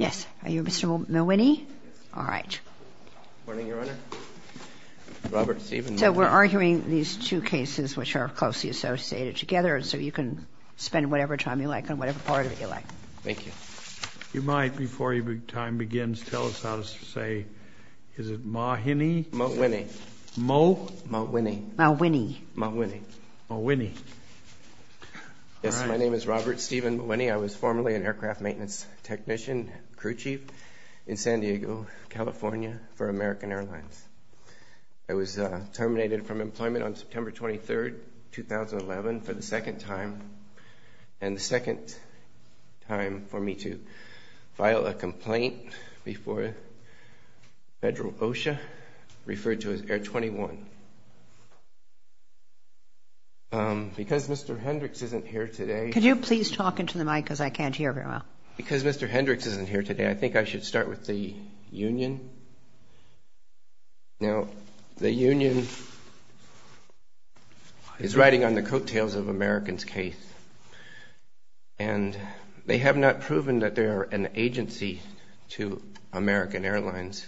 Robert Stephen Mawhinney v. Robert Mawhinney v. Robert Mawhinney I was formerly an aircraft maintenance technician, crew chief, in San Diego, California, for American Airlines. I was terminated from employment on September 23, 2011, for the second time, and the second time for me to file a complaint before Federal OSHA, referred to as Air 21. Because Mr. Hendricks isn't here today, I think I should start with the union. Now, the union is writing on the coattails of American's case, and they have not proven that they are an agency to American Airlines,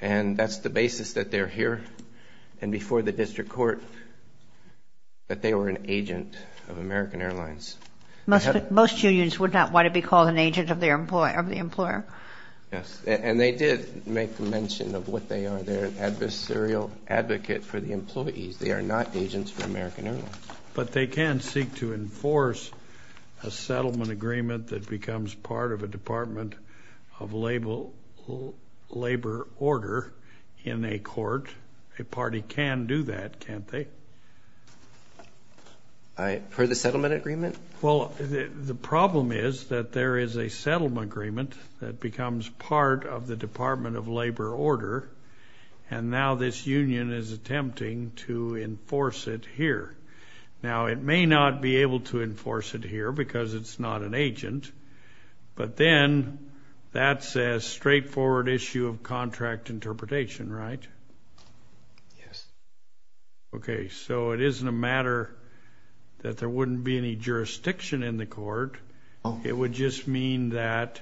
and that's the basis that they're here, and before the district court, that they were an agent of American Airlines. Most unions would not want to be called an agent of the employer. Yes, and they did make mention of what they are. They're an adversarial advocate for the employees. They are not agents for American Airlines. But they can seek to enforce a settlement agreement that becomes part of a Department of Labor order in a court. A party can do that, can't they? For the settlement agreement? Well, the problem is that there is a settlement agreement that becomes part of the Department of Labor order, and now this union is attempting to enforce it here. Now, it may not be able to enforce it here because it's not an agent, but then that's a straightforward issue of contract interpretation, right? Yes. Okay, so it isn't a matter that there wouldn't be any jurisdiction in the court. It would just mean that,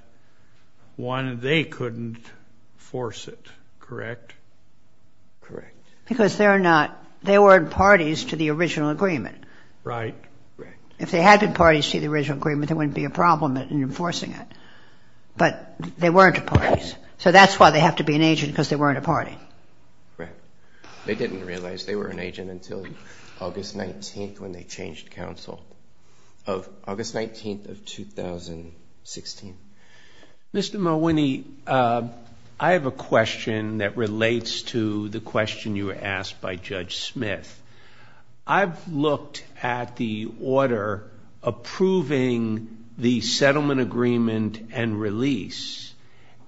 one, they couldn't force it, correct? Correct. Because they're not, they weren't parties to the original agreement. Right, right. If they had been parties to the original agreement, there wouldn't be a problem in enforcing it, but they weren't parties, so that's why they have to be an agent, because they weren't a party. Correct. They didn't realize they were an agent until August 19th when they changed counsel, of August 19th of 2016. Mr. Malwine, I have a question that relates to the question you asked by Judge Smith. I've looked at the order approving the settlement agreement and release,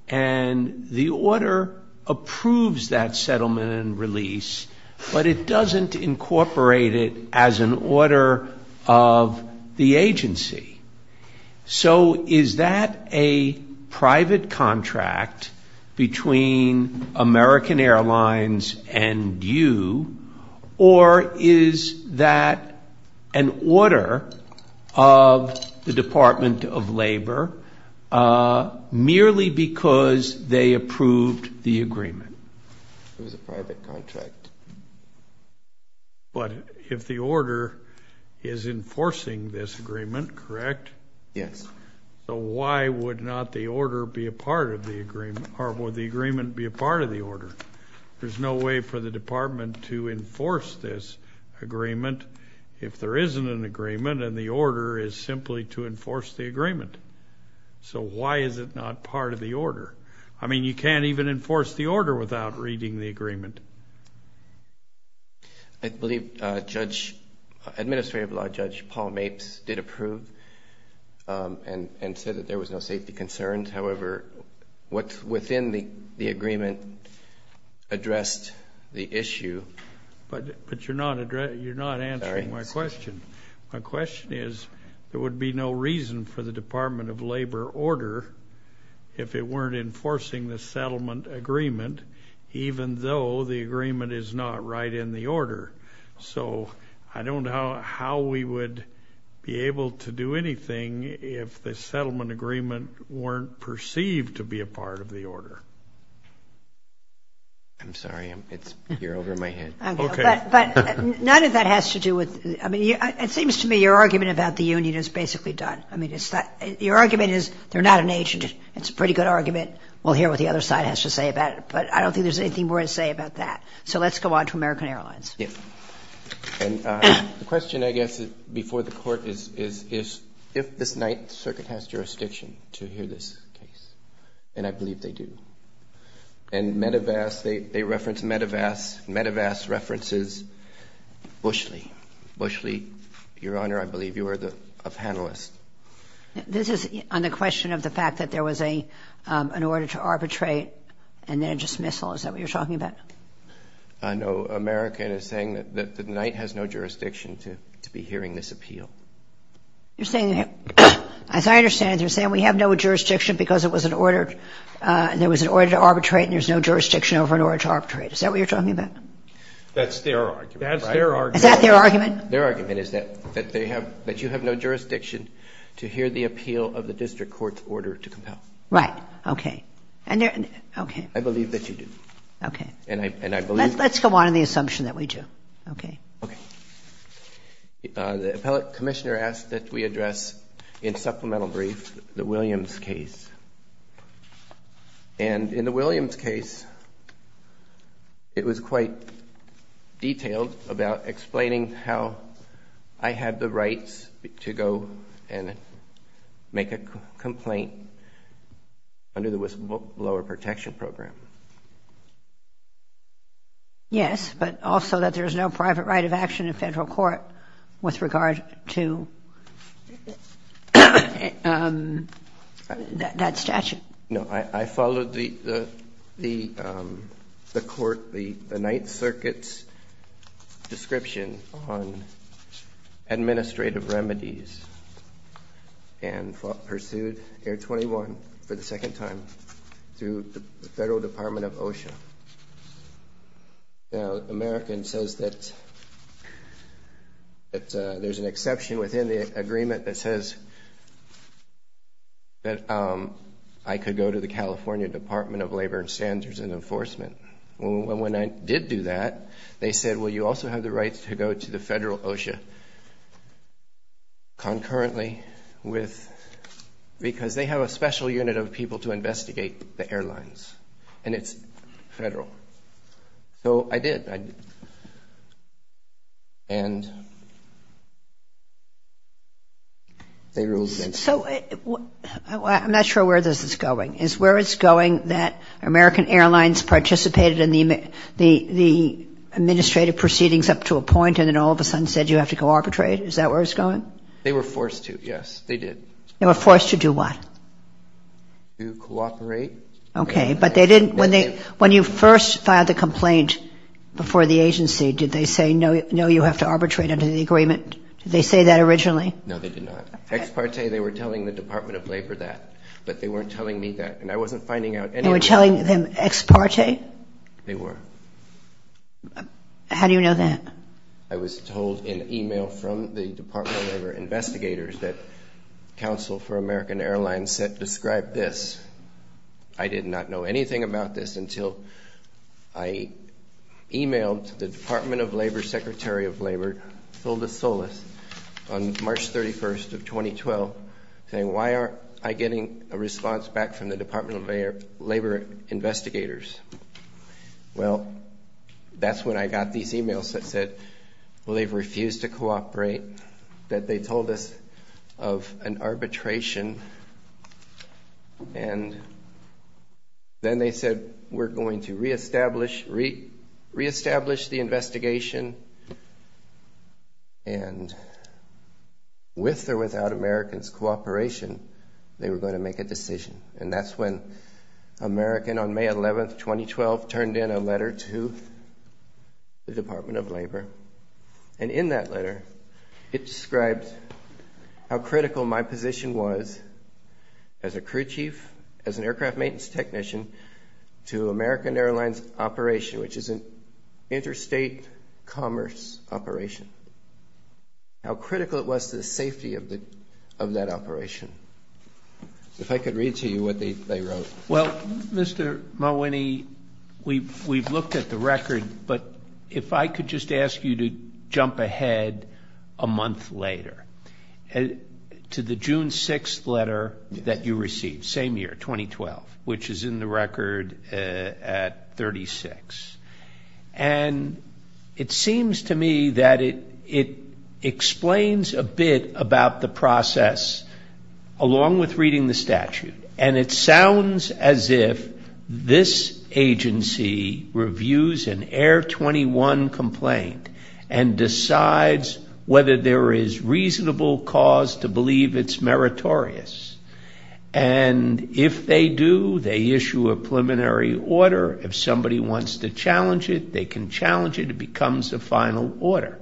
and the order approves that settlement and release, but it doesn't incorporate it as an order of the agency. So is that a private contract between American Airlines and you, or is that an order of the It was a private contract. But if the order is enforcing this agreement, correct? Yes. So why would not the order be a part of the agreement, or would the agreement be a part of the order? There's no way for the department to enforce this agreement if there isn't an agreement and the order is simply to enforce the agreement. So why is it not part of the meeting the agreement? I believe Judge, Administrative Law Judge Paul Mapes did approve and said that there was no safety concerns. However, what's within the agreement addressed the issue. But you're not answering my question. My question is, there would be no reason for the Department of Labor order if it weren't enforcing the settlement agreement, even though the agreement is not right in the order. So I don't know how we would be able to do anything if the settlement agreement weren't perceived to be a part of the order. I'm sorry, it's you're over my head. But none of that has to do with, I mean, it seems to me your argument about the union is basically done. I mean, it's that your argument is they're not an agent. It's a pretty good argument. We'll hear what the other side has to say about it. But I don't think there's anything more to say about that. So let's go on to American Airlines. And the question, I guess, before the court is if this Ninth Circuit has jurisdiction to hear this case. And I believe they do. And Medevas, they reference Medevas. Medevas Bushley. Bushley, Your Honor, I believe you are a panelist. This is on the question of the fact that there was an order to arbitrate and then a dismissal. Is that what you're talking about? No. American is saying that the Ninth has no jurisdiction to be hearing this appeal. You're saying, as I understand it, you're saying we have no jurisdiction because it was an order, there was an order to arbitrate and there's no jurisdiction over an order to arbitrate. Is that what you're talking about? That's their argument. Is that their argument? Their argument is that they have, that you have no jurisdiction to hear the appeal of the district court's order to compel. Right. Okay. And there, okay. I believe that you do. Okay. And I believe Let's go on to the assumption that we do. Okay. Okay. The appellate commissioner asked that we address in supplemental brief the Williams case. And in the Williams case, it was quite detailed about explaining how I had the rights to go and make a complaint under the whistleblower protection program. Yes, but also that there's no private right of action in federal court with regard to that statute. No, I followed the court, the Ninth Circuit's description on administrative remedies and pursued Air 21 for the second time through the Federal Department of OSHA. Now, American says that there's an exception within the agreement that says that I could go to the California Department of Labor and Standards and Enforcement. Well, when I did do that, they said, well, you also have the rights to go to the Federal OSHA concurrently with, because they have a special unit of people to investigate the case. So I did. And they ruled against me. So I'm not sure where this is going. Is where it's going that American Airlines participated in the administrative proceedings up to a point and then all of a sudden said you have to go arbitrate? Is that where it's going? They were forced to, yes. They did. They were forced to do what? To cooperate. Okay. But they didn't, when you first filed the complaint before the agency, did they say, no, you have to arbitrate under the agreement? Did they say that originally? No, they did not. Ex parte, they were telling the Department of Labor that. But they weren't telling me that. And I wasn't finding out anything. They were telling them ex parte? They were. How do you know that? I was told in email from the Department of Labor investigators that counsel for American Airlines said, describe this. I did not know anything about this until I emailed the Department of Labor, Secretary of Labor, Solis Solis, on March 31st of 2012, saying, why aren't I getting a response back from the Department of Labor investigators? Well, that's when I got these emails that said, well, they've refused to cooperate, that they told us of an arbitration. And then they said, we're going to reestablish the investigation. And with or without American's cooperation, they were going to make a decision. And that's when American, on May 11th, 2012, turned in a letter to the Department of Labor. And in that letter, it described how critical my position was as a crew chief, as an aircraft maintenance technician, to American Airlines operation, which is an interstate commerce operation. How critical it was to the safety of that operation. If I could read to you what they wrote. Well, Mr. Malwine, we've looked at the record, but if I could just ask you to jump ahead a month later, to the June 6th letter that you received, same year, 2012, which is in the record at 36. And it seems to me that it explains a bit about the process, along with reading the statute. And it sounds as if this agency reviews an Air 21 complaint and decides whether there is reasonable cause to believe it's meritorious. And if they do, they issue a preliminary order. If somebody wants to challenge it, they can challenge it. It becomes a final order.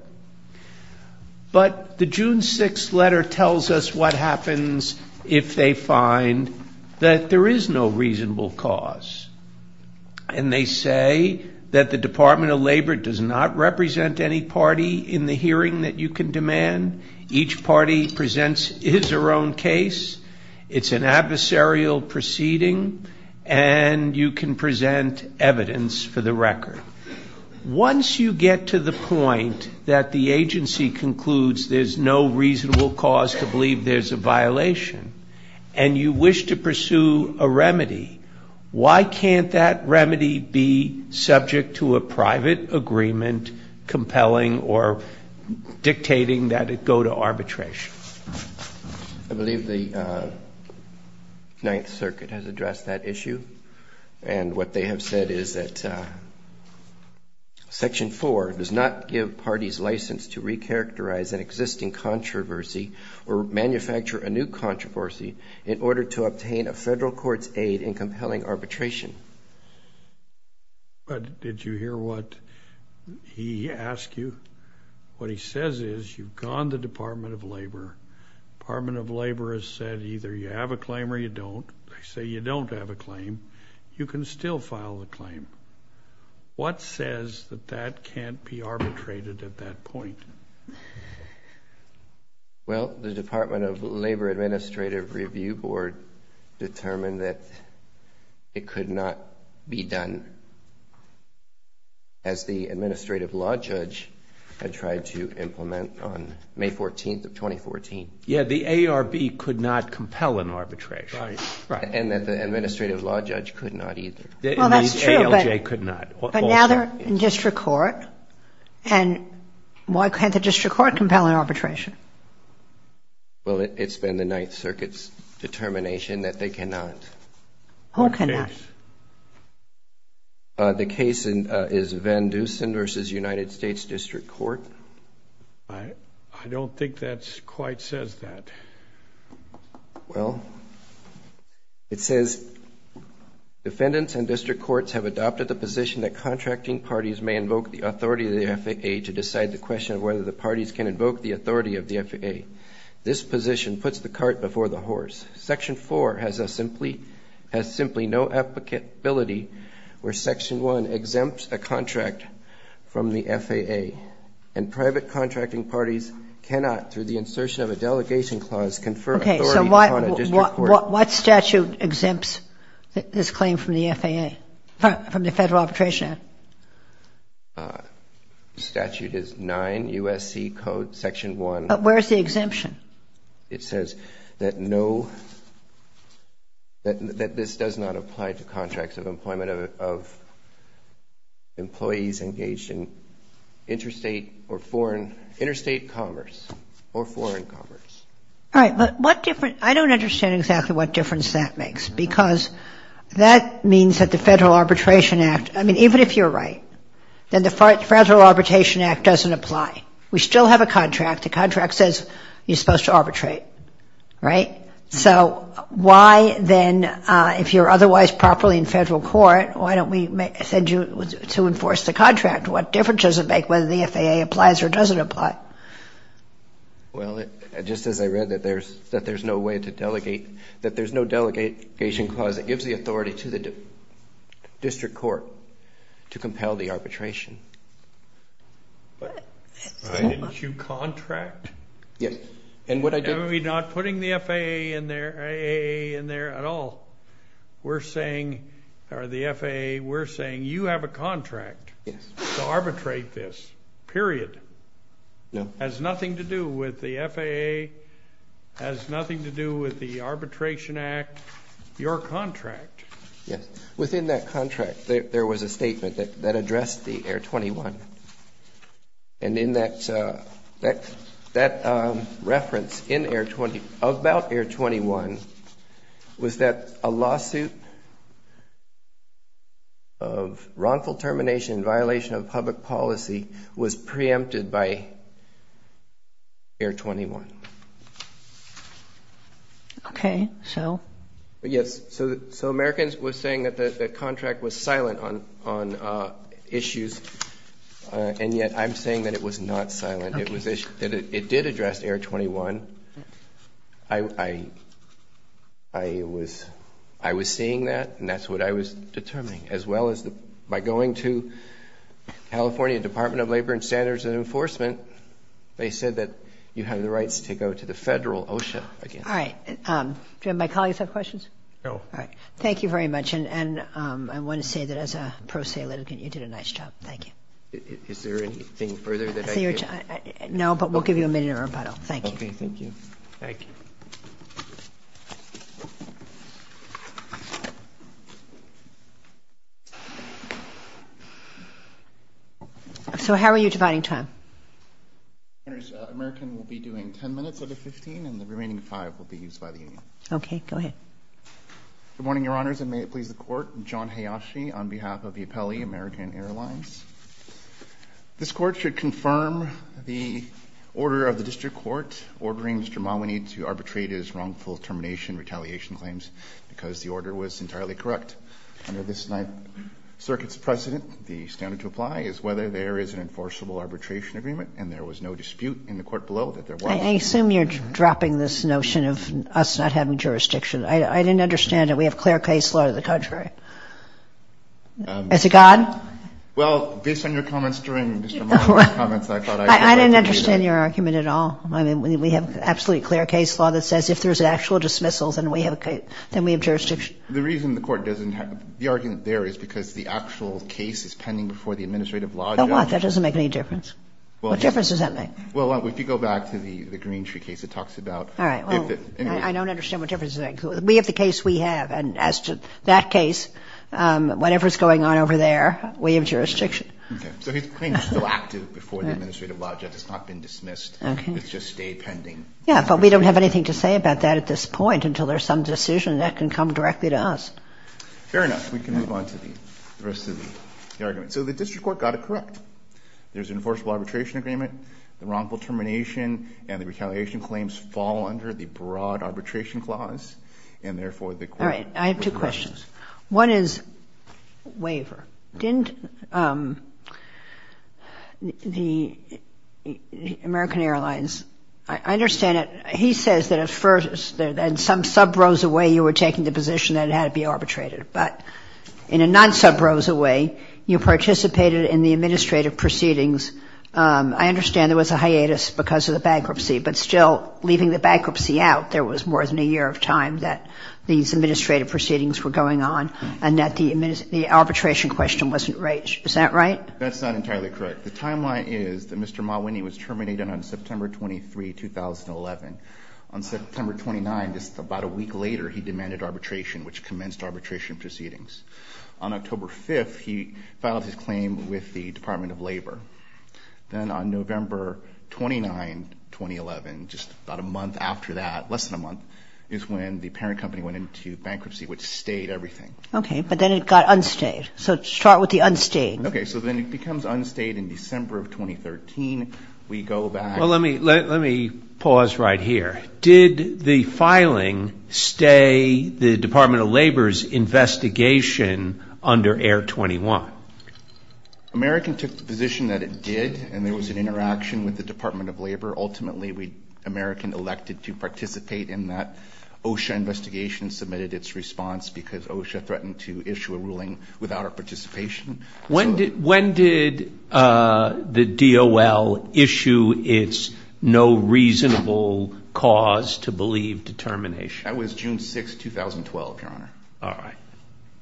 But the June 6th letter tells us what happens if there is no reasonable cause. And they say that the Department of Labor does not represent any party in the hearing that you can demand. Each party presents its own case. It's an adversarial proceeding. And you can present evidence for the record. Once you get to the point where you have a remedy, and you wish to pursue a remedy, why can't that remedy be subject to a private agreement compelling or dictating that it go to arbitration? I believe the Ninth Circuit has addressed that issue. And what they have said is that Section 4 does not give parties license to recharacterize an existing controversy or manufacture a new controversy in order to obtain a federal court's aid in compelling arbitration. But did you hear what he asked you? What he says is, you've gone to the Department of Labor. The Department of Labor has said either you have a claim or you don't. They say you don't have a claim. You can still file a claim. What says that that can't be arbitrated at that point? Well, the Department of Labor Administrative Review Board determined that it could not be done as the administrative law judge had tried to implement on May 14th of 2014. Yes, the ARB could not compel an arbitration. Right. And that the administrative law judge could not either. Well, that's true, but now they're in district court. And why can't the district court compel an arbitration? Well, it's been the Ninth Circuit's determination that they cannot. Who cannot? The case is Van Dusen v. United States District Court. I don't think that quite says that. Well, it says, defendants and district courts have adopted the position that contracting parties may invoke the authority of the FAA to decide the question of whether the parties can invoke the authority of the FAA. This position puts the cart before the horse. Section 4 has simply no applicability where Section 1 exempts a contract from the FAA, and private delegation clause confer authority upon a district court. What statute exempts this claim from the FAA, from the Federal Arbitration Act? Statute is 9 U.S.C. Code Section 1. Where's the exemption? It says that no, that this does not apply to contracts of employment of employees engaged in interstate or foreign, interstate commerce or foreign commerce. All right, but what difference, I don't understand exactly what difference that makes, because that means that the Federal Arbitration Act, I mean, even if you're right, then the Federal Arbitration Act doesn't apply. We still have a contract. The contract says you're supposed to arbitrate, right? So why then, if you're otherwise properly in federal court, why don't we send you to enforce the contract? What difference does it make whether the FAA applies or doesn't apply? Well, just as I read that there's no way to delegate, that there's no delegation clause that gives the authority to the district court to compel the arbitration. Why didn't you contract? Yes, and what I did... We're not putting the FAA in there at all. We're saying, or the FAA, we're saying you have a contract to arbitrate this, period. No. Has nothing to do with the FAA, has nothing to do with the Arbitration Act, your contract. Yes. Within that contract, there was a statement that addressed the Air 21. And in that reference in Air 20, about Air 21, was that a lawsuit of wrongful termination in violation of public policy was preempted by Air 21. Okay. So? Yes. So Americans was saying that the contract was silent on issues, and yet I'm saying that it was not silent. It did address Air 21. I was seeing that, and that's what I was determining, as well as by going to California Department of Labor and Standards and Enforcement, they said that you have the rights to go to the federal OSHA again. All right. Do my colleagues have questions? No. All right. Thank you very much. And I want to say that as a pro se litigant, you did a nice job. Thank you. Is there anything further that I can... No, but we'll give you a minute of rebuttal. Thank you. Okay. Thank you. Thank you. So how are you dividing time? American will be doing 10 minutes out of 15, and the remaining five will be used by the union. Okay. Go ahead. Good morning, Your Honors, and may it please the Court. John Hayashi on behalf of the Appellee American Airlines. This Court should confirm the order of the District Court ordering Mr. Mawinney to arbitrate his wrongful termination retaliation claims because the order was entirely correct. Under this Ninth Circuit's precedent, the standard to apply is whether there is an enforceable arbitration agreement and there was no dispute in the court below that there was. I assume you're dropping this notion of us not having jurisdiction. I didn't understand it. We have clear case law to the contrary. Is it gone? Well, based on your comments during Mr. Mawinney's comments, I thought I... I didn't understand your argument at all. I mean, we have absolute clear case law that says if there's an actual dismissal, then we have jurisdiction. The reason the court doesn't... the argument there is because the actual case is pending before the administrative law judge. So what? That doesn't make any difference. What difference does that make? Well, if you go back to the Green Tree case, it talks about... All right. Well, I don't understand what difference it makes. We have the case we have, and as to that case, whatever's going on over there, we have jurisdiction. Okay. So his claim is still active before the administrative law judge. It's not been dismissed. Okay. It's just stayed pending. Yeah, but we don't have anything to say about that at this point until there's some decision and that can come directly to us. Fair enough. We can move on to the rest of the argument. So the district court got it correct. There's an enforceable arbitration agreement. The wrongful termination and the retaliation claims fall under the broad arbitration clause, and therefore the court... All right. I have two questions. One is waiver. Didn't the American Airlines... I understand that he says that at first, in some sub-rows away, you were taking the position that it had to be arbitrated, but in a non-sub-rows away, you participated in the administrative proceedings. I understand there was a hiatus because of the bankruptcy, but still, leaving the bankruptcy out, there was more than a year of time that these administrative proceedings were going on and that the arbitration question wasn't raised. Is that right? That's not entirely correct. The timeline is that Mr. Mawinney was terminated on September 23, 2011. On September 29, just about a week later, he demanded arbitration, which commenced arbitration proceedings. On October 5, he filed his claim with the Department of Labor. Then on November 29, 2011, just about a month after that, less than a month, is when the parent company went into bankruptcy, which stayed everything. Okay. But then it got unstayed. So start with the unstayed. Okay. So then it becomes unstayed in December of 2013. We go back... Well, let me pause right here. Did the filing stay the Department of Labor's investigation under Air 21? American took the position that it did, and there was an interaction with the Department of Labor. Ultimately, American elected to participate in that. OSHA investigation submitted its response because OSHA threatened to issue a ruling without our participation. When did the DOL issue its no reasonable cause to believe determination? That was June 6, 2012, Your Honor. All right.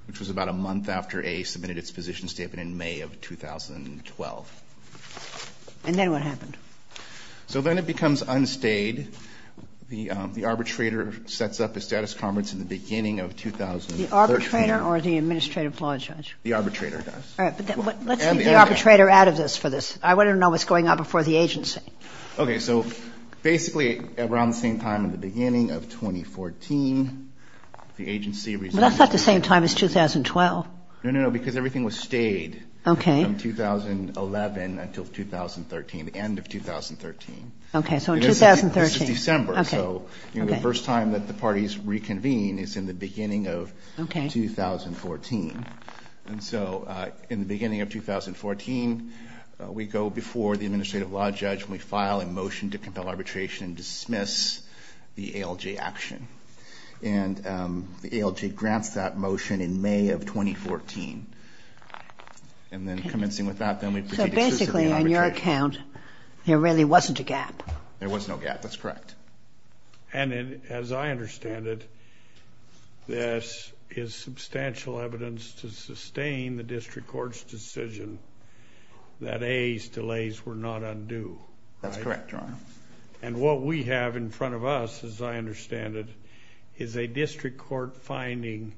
Which was about a month after A submitted its position statement in May of 2012. And then what happened? So then it becomes unstayed. The arbitrator sets up a status conference in the beginning of 2013. The arbitrator or the administrative law judge? The arbitrator does. All right. But let's leave the arbitrator out of this for this. I want to know what's going on before the agency. Okay. So basically around the same time in the beginning of 2014, the agency... But that's not the same time as 2012. No, no, no. Because everything was stayed... Okay. ...from 2011 until 2013, the end of 2013. Okay. So in 2013... This is December. Okay. So the first time that the parties reconvene is in the beginning of... Okay. ...2014. And so in the beginning of 2014, we go before the administrative law judge and we file a motion to compel arbitration and dismiss the ALJ action. And the ALJ grants that motion in May of 2014. Okay. And then commencing with that, then we proceed to... So basically on your account, there really wasn't a gap. There was no gap. That's correct. And as I understand it, this is substantial evidence to sustain the district court's decision that A's delays were not undue. That's correct, Your Honor. And what we have in front of us, as I understand it, is a district court finding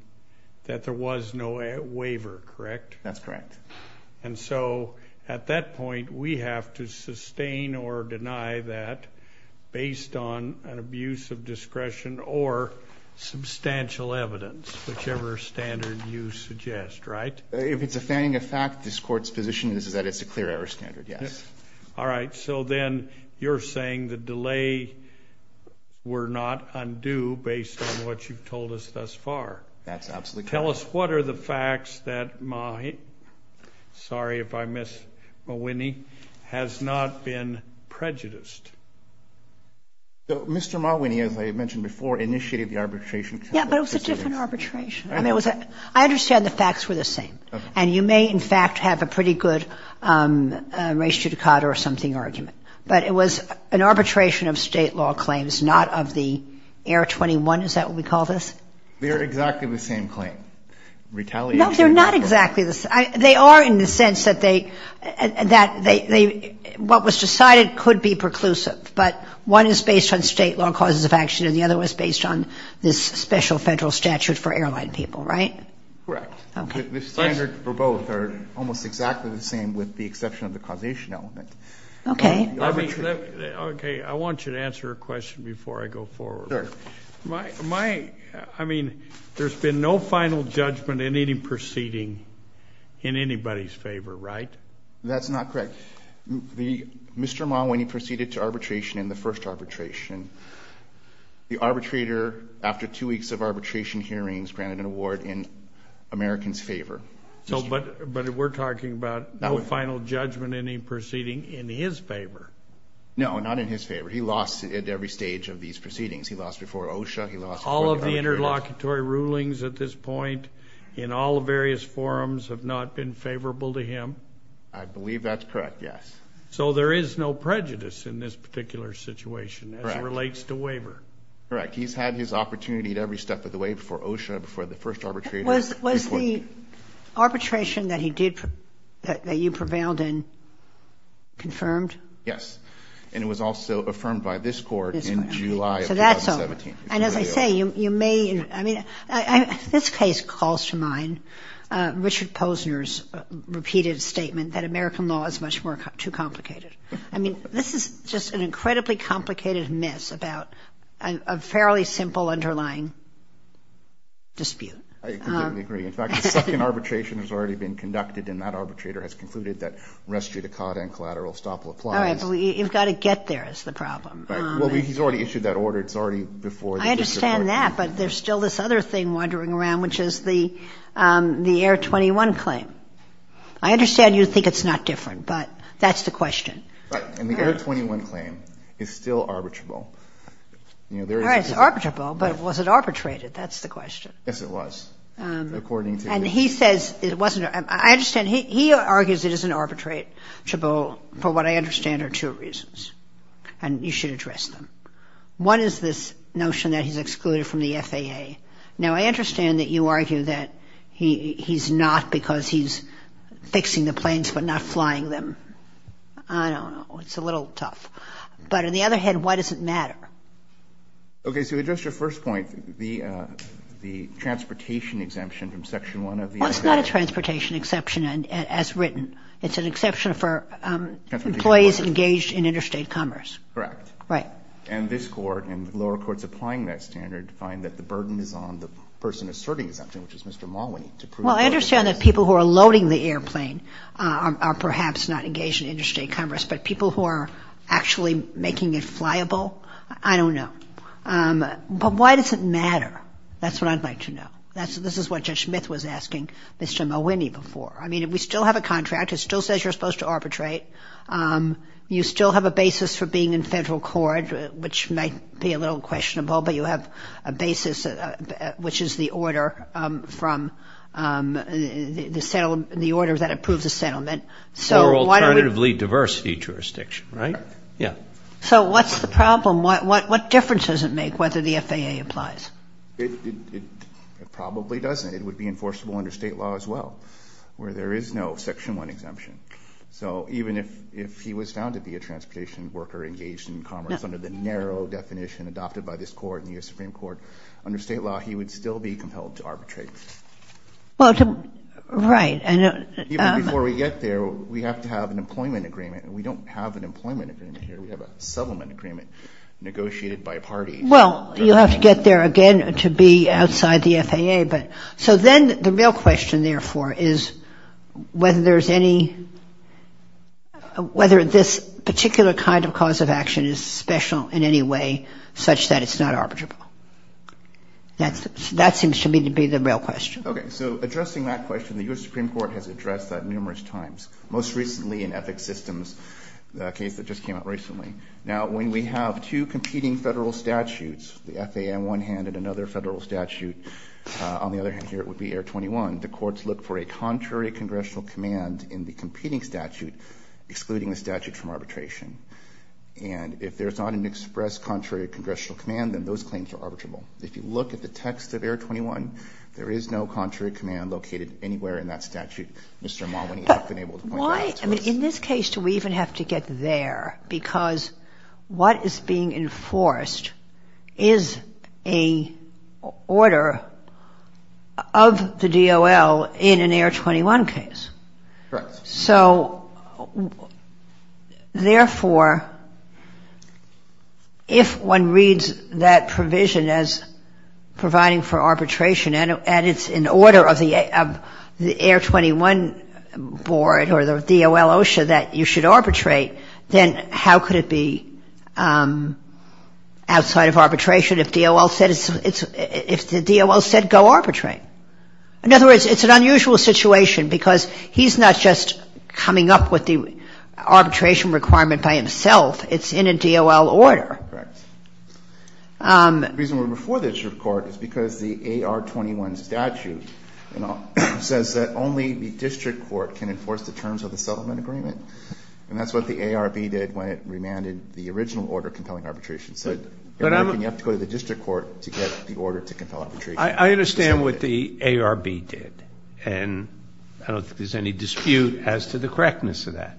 that there was no waiver, correct? That's correct. And so at that point, we have to sustain or deny that based on an abuse of discretion or substantial evidence, whichever standard you suggest, right? If it's a finding of fact, this court's position is that it's a clear error standard, yes. All right. So then you're saying the delay were not undue based on what you've told us thus far. That's absolutely correct. Tell us what are the facts that Mahwini, sorry if I miss Mahwini, has not been prejudiced. Mr. Mahwini, as I mentioned before, initiated the arbitration. Yeah, but it was a different arbitration. I understand the facts were the same. And you may, in fact, have a pretty good res judicata or something argument. But it was an arbitration of state law claims, not of the Air 21. Is that what we call this? They're exactly the same claim. No, they're not exactly the same. They are in the sense that what was decided could be preclusive. But one is based on state law causes of action, and the other was based on this special federal statute for airline people, right? Correct. The standard for both are almost exactly the same with the exception of the causation element. Okay. Okay. I want you to answer a question before I go forward. Sure. I mean, there's been no final judgment in any proceeding in anybody's favor, right? That's not correct. Mr. Mahwini proceeded to arbitration in the first arbitration. The arbitrator, after two weeks of arbitration hearings, granted an award in Americans' favor. But we're talking about no final judgment in any proceeding in his favor. No, not in his favor. He lost at every stage of these proceedings. He lost before OSHA. He lost before the arbitrators. All of the interlocutory rulings at this point in all the various forums have not been favorable to him? I believe that's correct, yes. So there is no prejudice in this particular situation as it relates to waiver? Correct. He's had his opportunity at every step of the way before OSHA, before the first arbitrator. Was the arbitration that he did, that you prevailed in, confirmed? Yes. And it was also affirmed by this court in July. So that's over. And as I say, you may, I mean, this case calls to mind Richard Posner's repeated statement that American law is much too complicated. I mean, this is just an incredibly complicated mess about a fairly simple underlying dispute. I completely agree. In fact, the second arbitration has already been conducted, and that arbitrator has concluded that res judicata and collateral estoppel applies. I understand that, but there's still this other thing wandering around, which is the AIR-21 claim. I understand you think it's not different, but that's the question. Right. And the AIR-21 claim is still arbitrable. All right. It's arbitrable, but was it arbitrated? That's the question. Yes, it was, according to this. And he says it wasn't. I understand he argues it isn't arbitrable for what I understand are two reasons. And you should address them. One is this notion that he's excluded from the FAA. Now, I understand that you argue that he's not because he's fixing the planes but not flying them. I don't know. It's a little tough. But on the other hand, why does it matter? Okay. So to address your first point, the transportation exemption from Section 1 of the AIR. Well, it's not a transportation exception as written. It's an exception for employees engaged in interstate commerce. Correct. Right. And this Court and lower courts applying that standard find that the burden is on the person asserting the exemption, which is Mr. Mulwiney, to prove it. Well, I understand that people who are loading the airplane are perhaps not engaged in interstate commerce, but people who are actually making it flyable, I don't know. But why does it matter? That's what I'd like to know. This is what Judge Smith was asking Mr. Mulwiney before. I mean, we still have a contract. It still says you're supposed to arbitrate. You still have a basis for being in federal court, which might be a little questionable, but you have a basis which is the order from the order that approves a settlement. Or alternatively diversity jurisdiction, right? Yeah. So what's the problem? What difference does it make whether the FAA applies? It probably doesn't. It would be enforceable under State law as well, where there is no Section 1 exemption. So even if he was found to be a transportation worker engaged in commerce under the narrow definition adopted by this Court and the U.S. Supreme Court, under State law he would still be compelled to arbitrate. Right. Even before we get there, we have to have an employment agreement. We don't have an employment agreement here. We have a settlement agreement negotiated by parties. Well, you'll have to get there again to be outside the FAA. So then the real question, therefore, is whether there's any – whether this particular kind of cause of action is special in any way such that it's not arbitrable. That seems to me to be the real question. Okay. So addressing that question, the U.S. Supreme Court has addressed that numerous times, most recently in Ethics Systems, the case that just came out recently. Now, when we have two competing Federal statutes, the FAA on one hand and another Federal statute on the other hand here, it would be Air 21. The courts look for a contrary congressional command in the competing statute excluding the statute from arbitration. And if there's not an express contrary congressional command, then those claims are arbitrable. If you look at the text of Air 21, there is no contrary command located anywhere in that statute. Mr. Mulvaney has been able to point that out to us. I mean, in this case, do we even have to get there? Because what is being enforced is a order of the DOL in an Air 21 case. Correct. So, therefore, if one reads that provision as providing for arbitration and it's an order of the Air 21 board or the DOL OSHA that you should arbitrate, then how could it be outside of arbitration if the DOL said go arbitrate? In other words, it's an unusual situation because he's not just coming up with the arbitration requirement by himself. Correct. The reason we're before the district court is because the Air 21 statute says that only the district court can enforce the terms of the settlement agreement. And that's what the ARB did when it remanded the original order compelling arbitration. So you have to go to the district court to get the order to compel arbitration. I understand what the ARB did. And I don't think there's any dispute as to the correctness of that.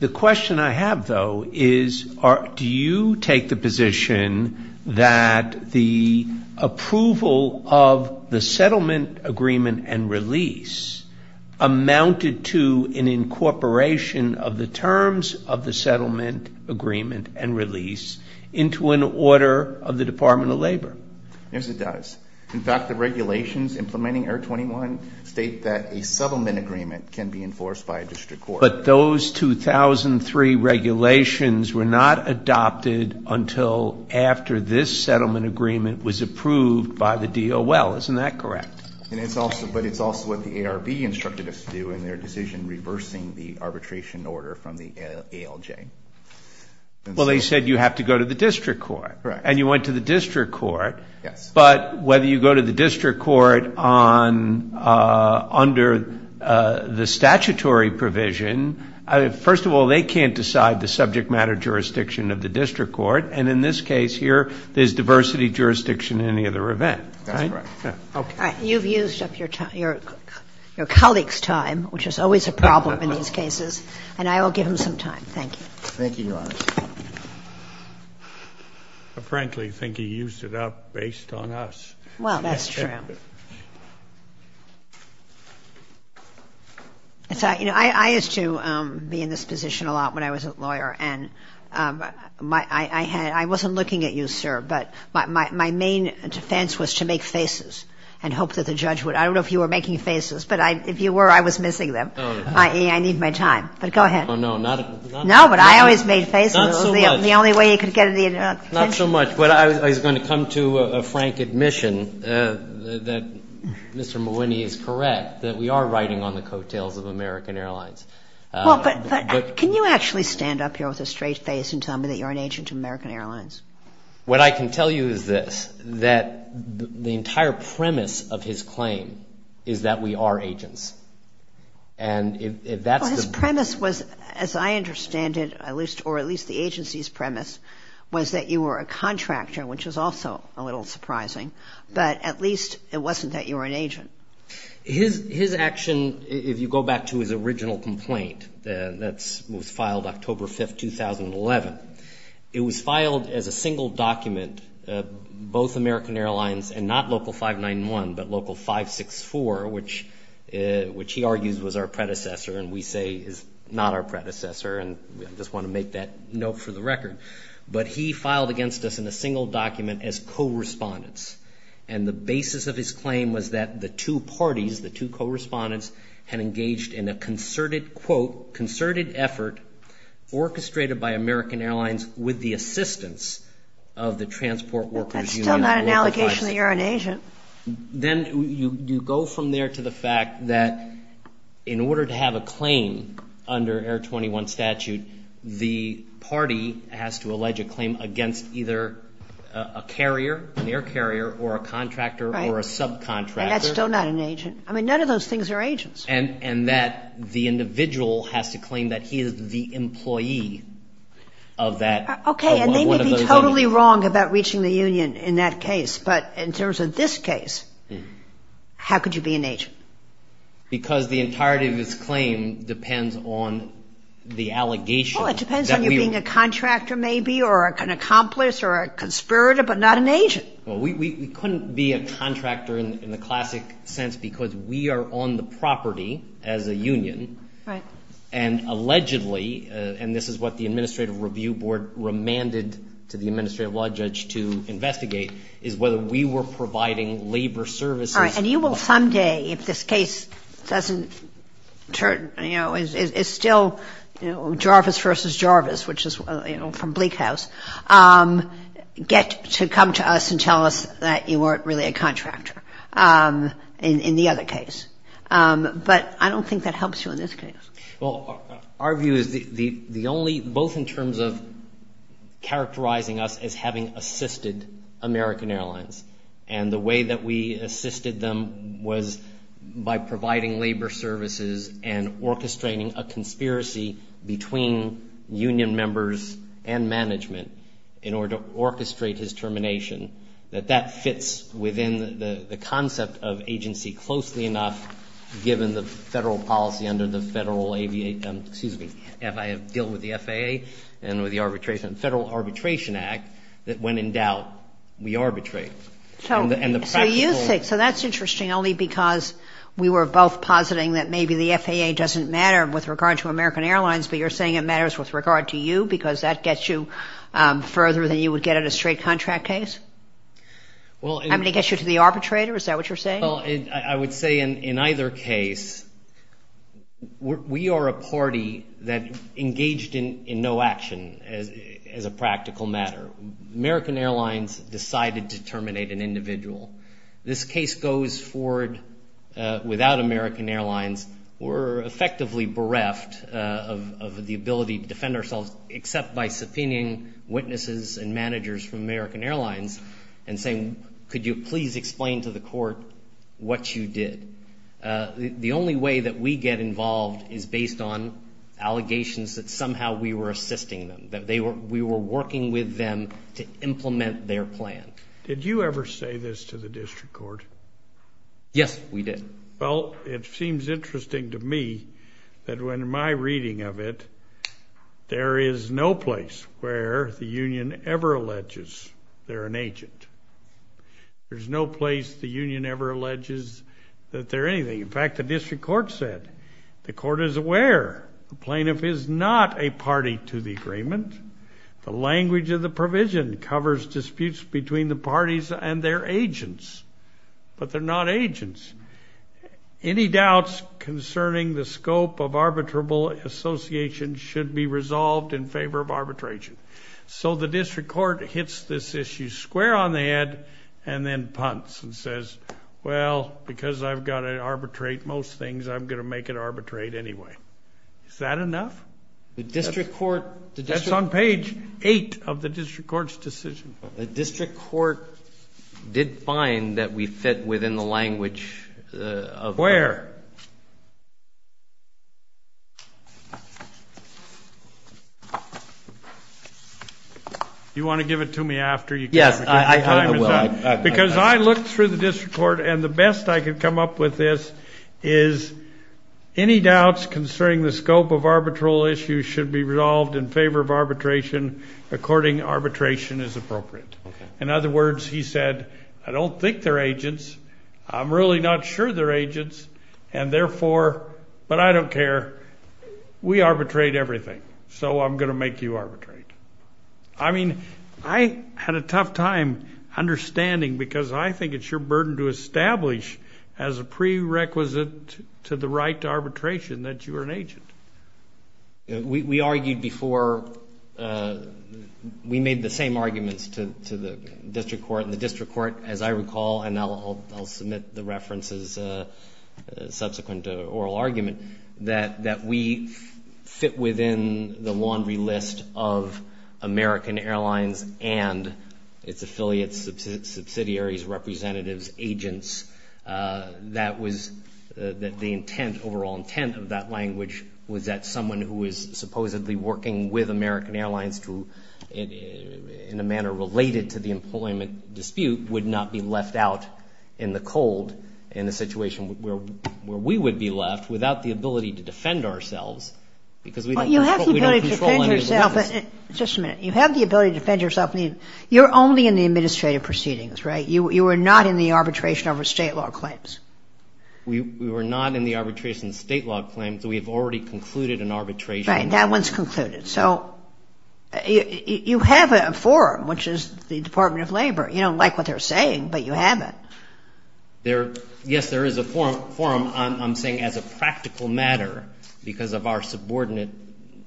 The question I have, though, is do you take the position that the approval of the settlement agreement and release amounted to an incorporation of the terms of the settlement agreement and release into an order of the Department of Labor? Yes, it does. In fact, the regulations implementing Air 21 state that a settlement agreement can be enforced by a district court. But those 2003 regulations were not adopted until after this settlement agreement was approved by the DOL. Isn't that correct? But it's also what the ARB instructed us to do in their decision reversing the arbitration order from the ALJ. Well, they said you have to go to the district court. Correct. And you went to the district court. Yes. But whether you go to the district court under the statutory provision, first of all, they can't decide the subject matter jurisdiction of the district court. And in this case here, there's diversity jurisdiction in any other event. That's correct. You've used up your colleague's time, which is always a problem in these cases. Thank you. Thank you, Your Honor. I frankly think he used it up based on us. Well, that's true. You know, I used to be in this position a lot when I was a lawyer. And I wasn't looking at you, sir, but my main defense was to make faces and hope that the judge would. I don't know if you were making faces, but if you were, I was missing them, i.e., I need my time. But go ahead. Oh, no, not at all. No, but I always made faces. Not so much. It was the only way he could get the attention. Not so much. But I was going to come to a frank admission that Mr. Malwine is correct, that we are riding on the coattails of American Airlines. But can you actually stand up here with a straight face and tell me that you're an agent of American Airlines? What I can tell you is this, that the entire premise of his claim is that we are agents. Well, his premise was, as I understand it, or at least the agency's premise, was that you were a contractor, which is also a little surprising. But at least it wasn't that you were an agent. His action, if you go back to his original complaint that was filed October 5, 2011, it was filed as a single document, both American Airlines and not Local 564, which he argues was our predecessor and we say is not our predecessor. And I just want to make that note for the record. But he filed against us in a single document as co-respondents. And the basis of his claim was that the two parties, the two co-respondents, had engaged in a concerted, quote, concerted effort orchestrated by American Airlines with the assistance of the Transport Workers Union. That's still not an allegation that you're an agent. Then you go from there to the fact that in order to have a claim under Air 21 statute, the party has to allege a claim against either a carrier, an air carrier, or a contractor or a subcontractor. Right. And that's still not an agent. I mean, none of those things are agents. And that the individual has to claim that he is the employee of that, of one of those. Okay. And they may be totally wrong about reaching the union in that case. But in terms of this case, how could you be an agent? Because the entirety of his claim depends on the allegation. Well, it depends on you being a contractor maybe or an accomplice or a conspirator, but not an agent. Well, we couldn't be a contractor in the classic sense because we are on the property as a union. Right. And allegedly, and this is what the Administrative Review Board remanded to the Administrative Law Judge to investigate, is whether we were providing labor services. All right. And you will someday, if this case doesn't turn, you know, it's still Jarvis v. Jarvis, which is, you know, from Bleak House, get to come to us and tell us that you weren't really a contractor in the other case. But I don't think that helps you in this case. Well, our view is the only, both in terms of characterizing us as having assisted American Airlines. And the way that we assisted them was by providing labor services and orchestrating a conspiracy between union members and management in order to orchestrate his termination, that that fits within the concept of agency closely enough given the federal policy under the Federal Aviation, excuse me, deal with the FAA and with the arbitration, Federal Arbitration Act, that when in doubt, we arbitrate. So you say, so that's interesting only because we were both positing that maybe the FAA doesn't matter with regard to American Airlines, but you're saying it matters with regard to you because that gets you further than you would get at a straight contract case? I mean, it gets you to the arbitrator, is that what you're saying? Well, I would say in either case, we are a party that engaged in no action as a practical matter. American Airlines decided to terminate an individual. This case goes forward without American Airlines. We're effectively bereft of the ability to defend ourselves except by subpoenaing witnesses and managers from American Airlines and saying, could you please explain to the court what you did? The only way that we get involved is based on allegations that somehow we were assisting them, that we were working with them to implement their plan. Did you ever say this to the district court? Yes, we did. Well, it seems interesting to me that when my reading of it, there is no place where the union ever alleges they're an agent. There's no place the union ever alleges that they're anything. In fact, the district court said, the court is aware the plaintiff is not a party to the agreement. The language of the provision covers disputes between the parties and their agents, but they're not agents. So the district court hits this issue square on the head and then punts and says, well, because I've got to arbitrate most things, I'm going to make it arbitrate anyway. Is that enough? The district court. That's on page eight of the district court's decision. The district court did find that we fit within the language of. Where? Do you want to give it to me after? Yes, I will. Because I looked through the district court, and the best I could come up with this is, any doubts concerning the scope of arbitral issues should be resolved in favor of arbitration, according arbitration is appropriate. In other words, he said, I don't think they're agents. I'm not sure they're agents. And therefore, but I don't care, we arbitrate everything. So I'm going to make you arbitrate. I mean, I had a tough time understanding because I think it's your burden to establish as a prerequisite to the right to arbitration that you are an agent. We argued before. We made the same arguments to the district court, the district court, as I recall, and I'll, I'll, I'll submit the references subsequent to oral argument that, that we fit within the laundry list of American airlines and its affiliates, subsidiaries, representatives, agents. That was the intent, overall intent of that language was that someone who is supposedly working with American airlines to, in a manner related to the employment dispute would not be left out in the cold in a situation where, where we would be left without the ability to defend ourselves because we don't control any of the business. Just a minute. You have the ability to defend yourself. You're only in the administrative proceedings, right? You were not in the arbitration over state law claims. We were not in the arbitration state law claims. We have already concluded an arbitration. That one's concluded. So you have a forum, which is the Department of Labor. You don't like what they're saying, but you have it. Yes, there is a forum. I'm saying as a practical matter, because of our subordinate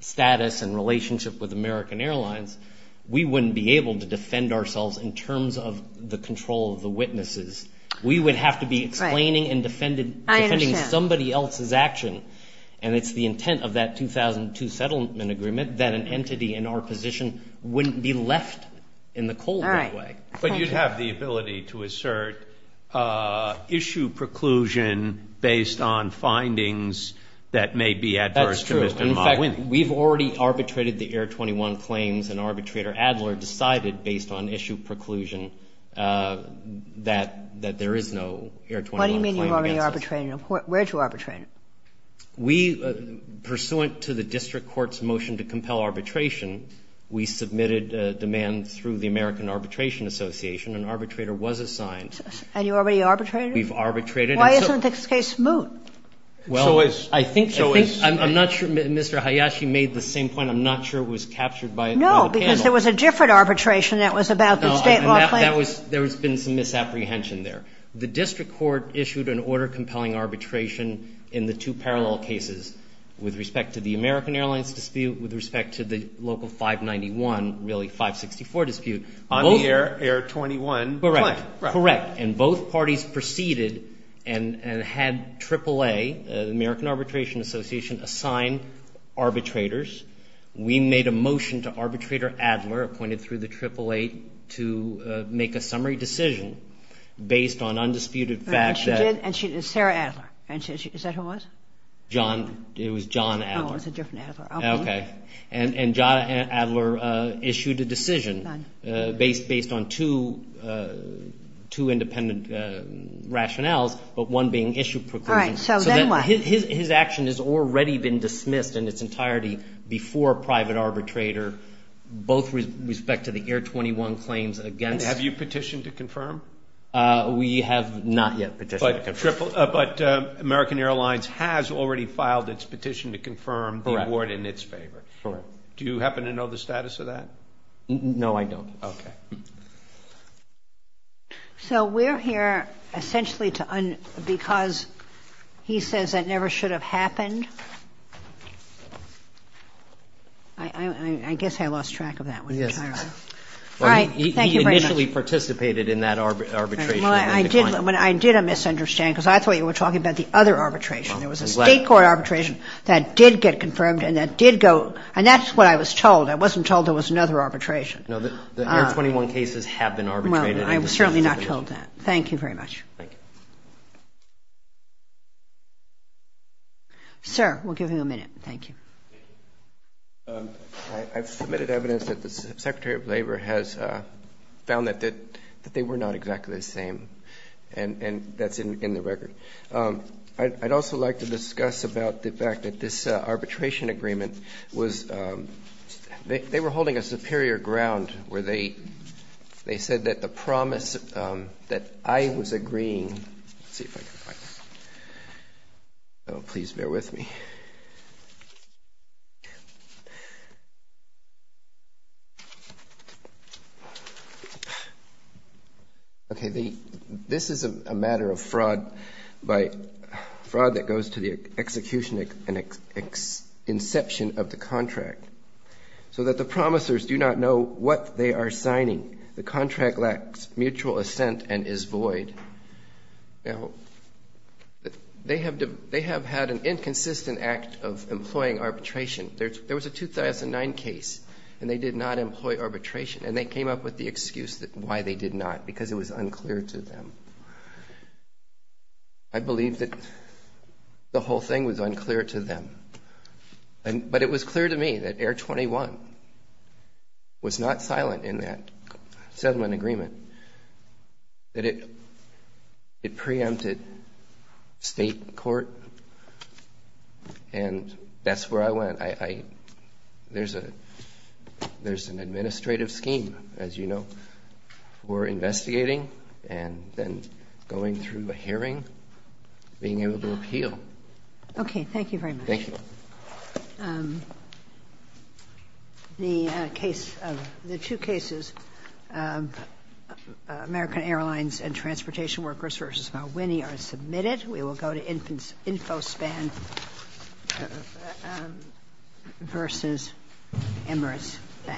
status and relationship with American airlines, we wouldn't be able to defend ourselves in terms of the control of the witnesses. We would have to be explaining and defending somebody else's action, and it's the intent of that 2002 settlement agreement that an entity in our position wouldn't be left in the cold that way. All right. Thank you. But you have the ability to assert issue preclusion based on findings that may be adverse to Mr. Mott winning. That's true. In fact, we've already arbitrated the Air 21 claims, and Arbitrator Adler decided based on issue preclusion that there is no Air 21 claim against us. What do you mean you've already arbitrated it? Where did you arbitrate it? We, pursuant to the district court's motion to compel arbitration, we submitted demand through the American Arbitration Association, and Arbitrator was assigned. And you already arbitrated it? We've arbitrated it. Why isn't this case moot? Well, I think so. I'm not sure Mr. Hayashi made the same point. I'm not sure it was captured by the panel. No, because there was a different arbitration that was about the state law claim. There's been some misapprehension there. The district court issued an order compelling arbitration in the two parallel cases with respect to the American Airlines dispute, with respect to the local 591, really 564 dispute. On the Air 21 claim. Correct. Correct. And both parties proceeded and had AAA, the American Arbitration Association, assign arbitrators. We made a motion to Arbitrator Adler, appointed through the AAA, to make a summary decision based on undisputed facts. And she did? Sarah Adler. Is that who it was? It was John Adler. Oh, it was a different Adler. Okay. And John Adler issued a decision based on two independent rationales, but one being issue preclusion. So then what? His action has already been dismissed in its entirety before a private arbitrator, both with respect to the Air 21 claims against. Have you petitioned to confirm? We have not yet petitioned to confirm. But American Airlines has already filed its petition to confirm the award in its favor. Correct. Do you happen to know the status of that? No, I don't. Okay. So we're here essentially because he says it never should have happened. I guess I lost track of that. Yes. All right. Thank you very much. He initially participated in that arbitration. Well, I did a misunderstand because I thought you were talking about the other arbitration. There was a state court arbitration that did get confirmed and that did go and that's what I was told. I wasn't told there was another arbitration. No, the Air 21 cases have been arbitrated. Well, I was certainly not told that. Thank you very much. Thank you. Sir, we'll give you a minute. Thank you. I've submitted evidence that the Secretary of Labor has found that they were not exactly the same, and that's in the record. I'd also like to discuss about the fact that this arbitration agreement was they were holding a superior ground where they said that the promise that I was agreeing. Let's see if I can find this. Oh, please bear with me. Okay. This is a matter of fraud that goes to the execution and inception of the contract. So that the promisers do not know what they are signing. The contract lacks mutual assent and is void. Now, they have had an inconsistent act of employing arbitration. There was a 2009 case, and they did not employ arbitration, and they came up with the excuse why they did not because it was unclear to them. I believe that the whole thing was unclear to them. But it was clear to me that Air 21 was not silent in that settlement agreement. It preempted state court, and that's where I went. There's an administrative scheme, as you know, for investigating and then going through a hearing, being able to appeal. Okay. Thank you very much. Thank you. The two cases, American Airlines and Transportation Workers v. Malwine, are submitted. We will go to InfoSpan v. Emirates.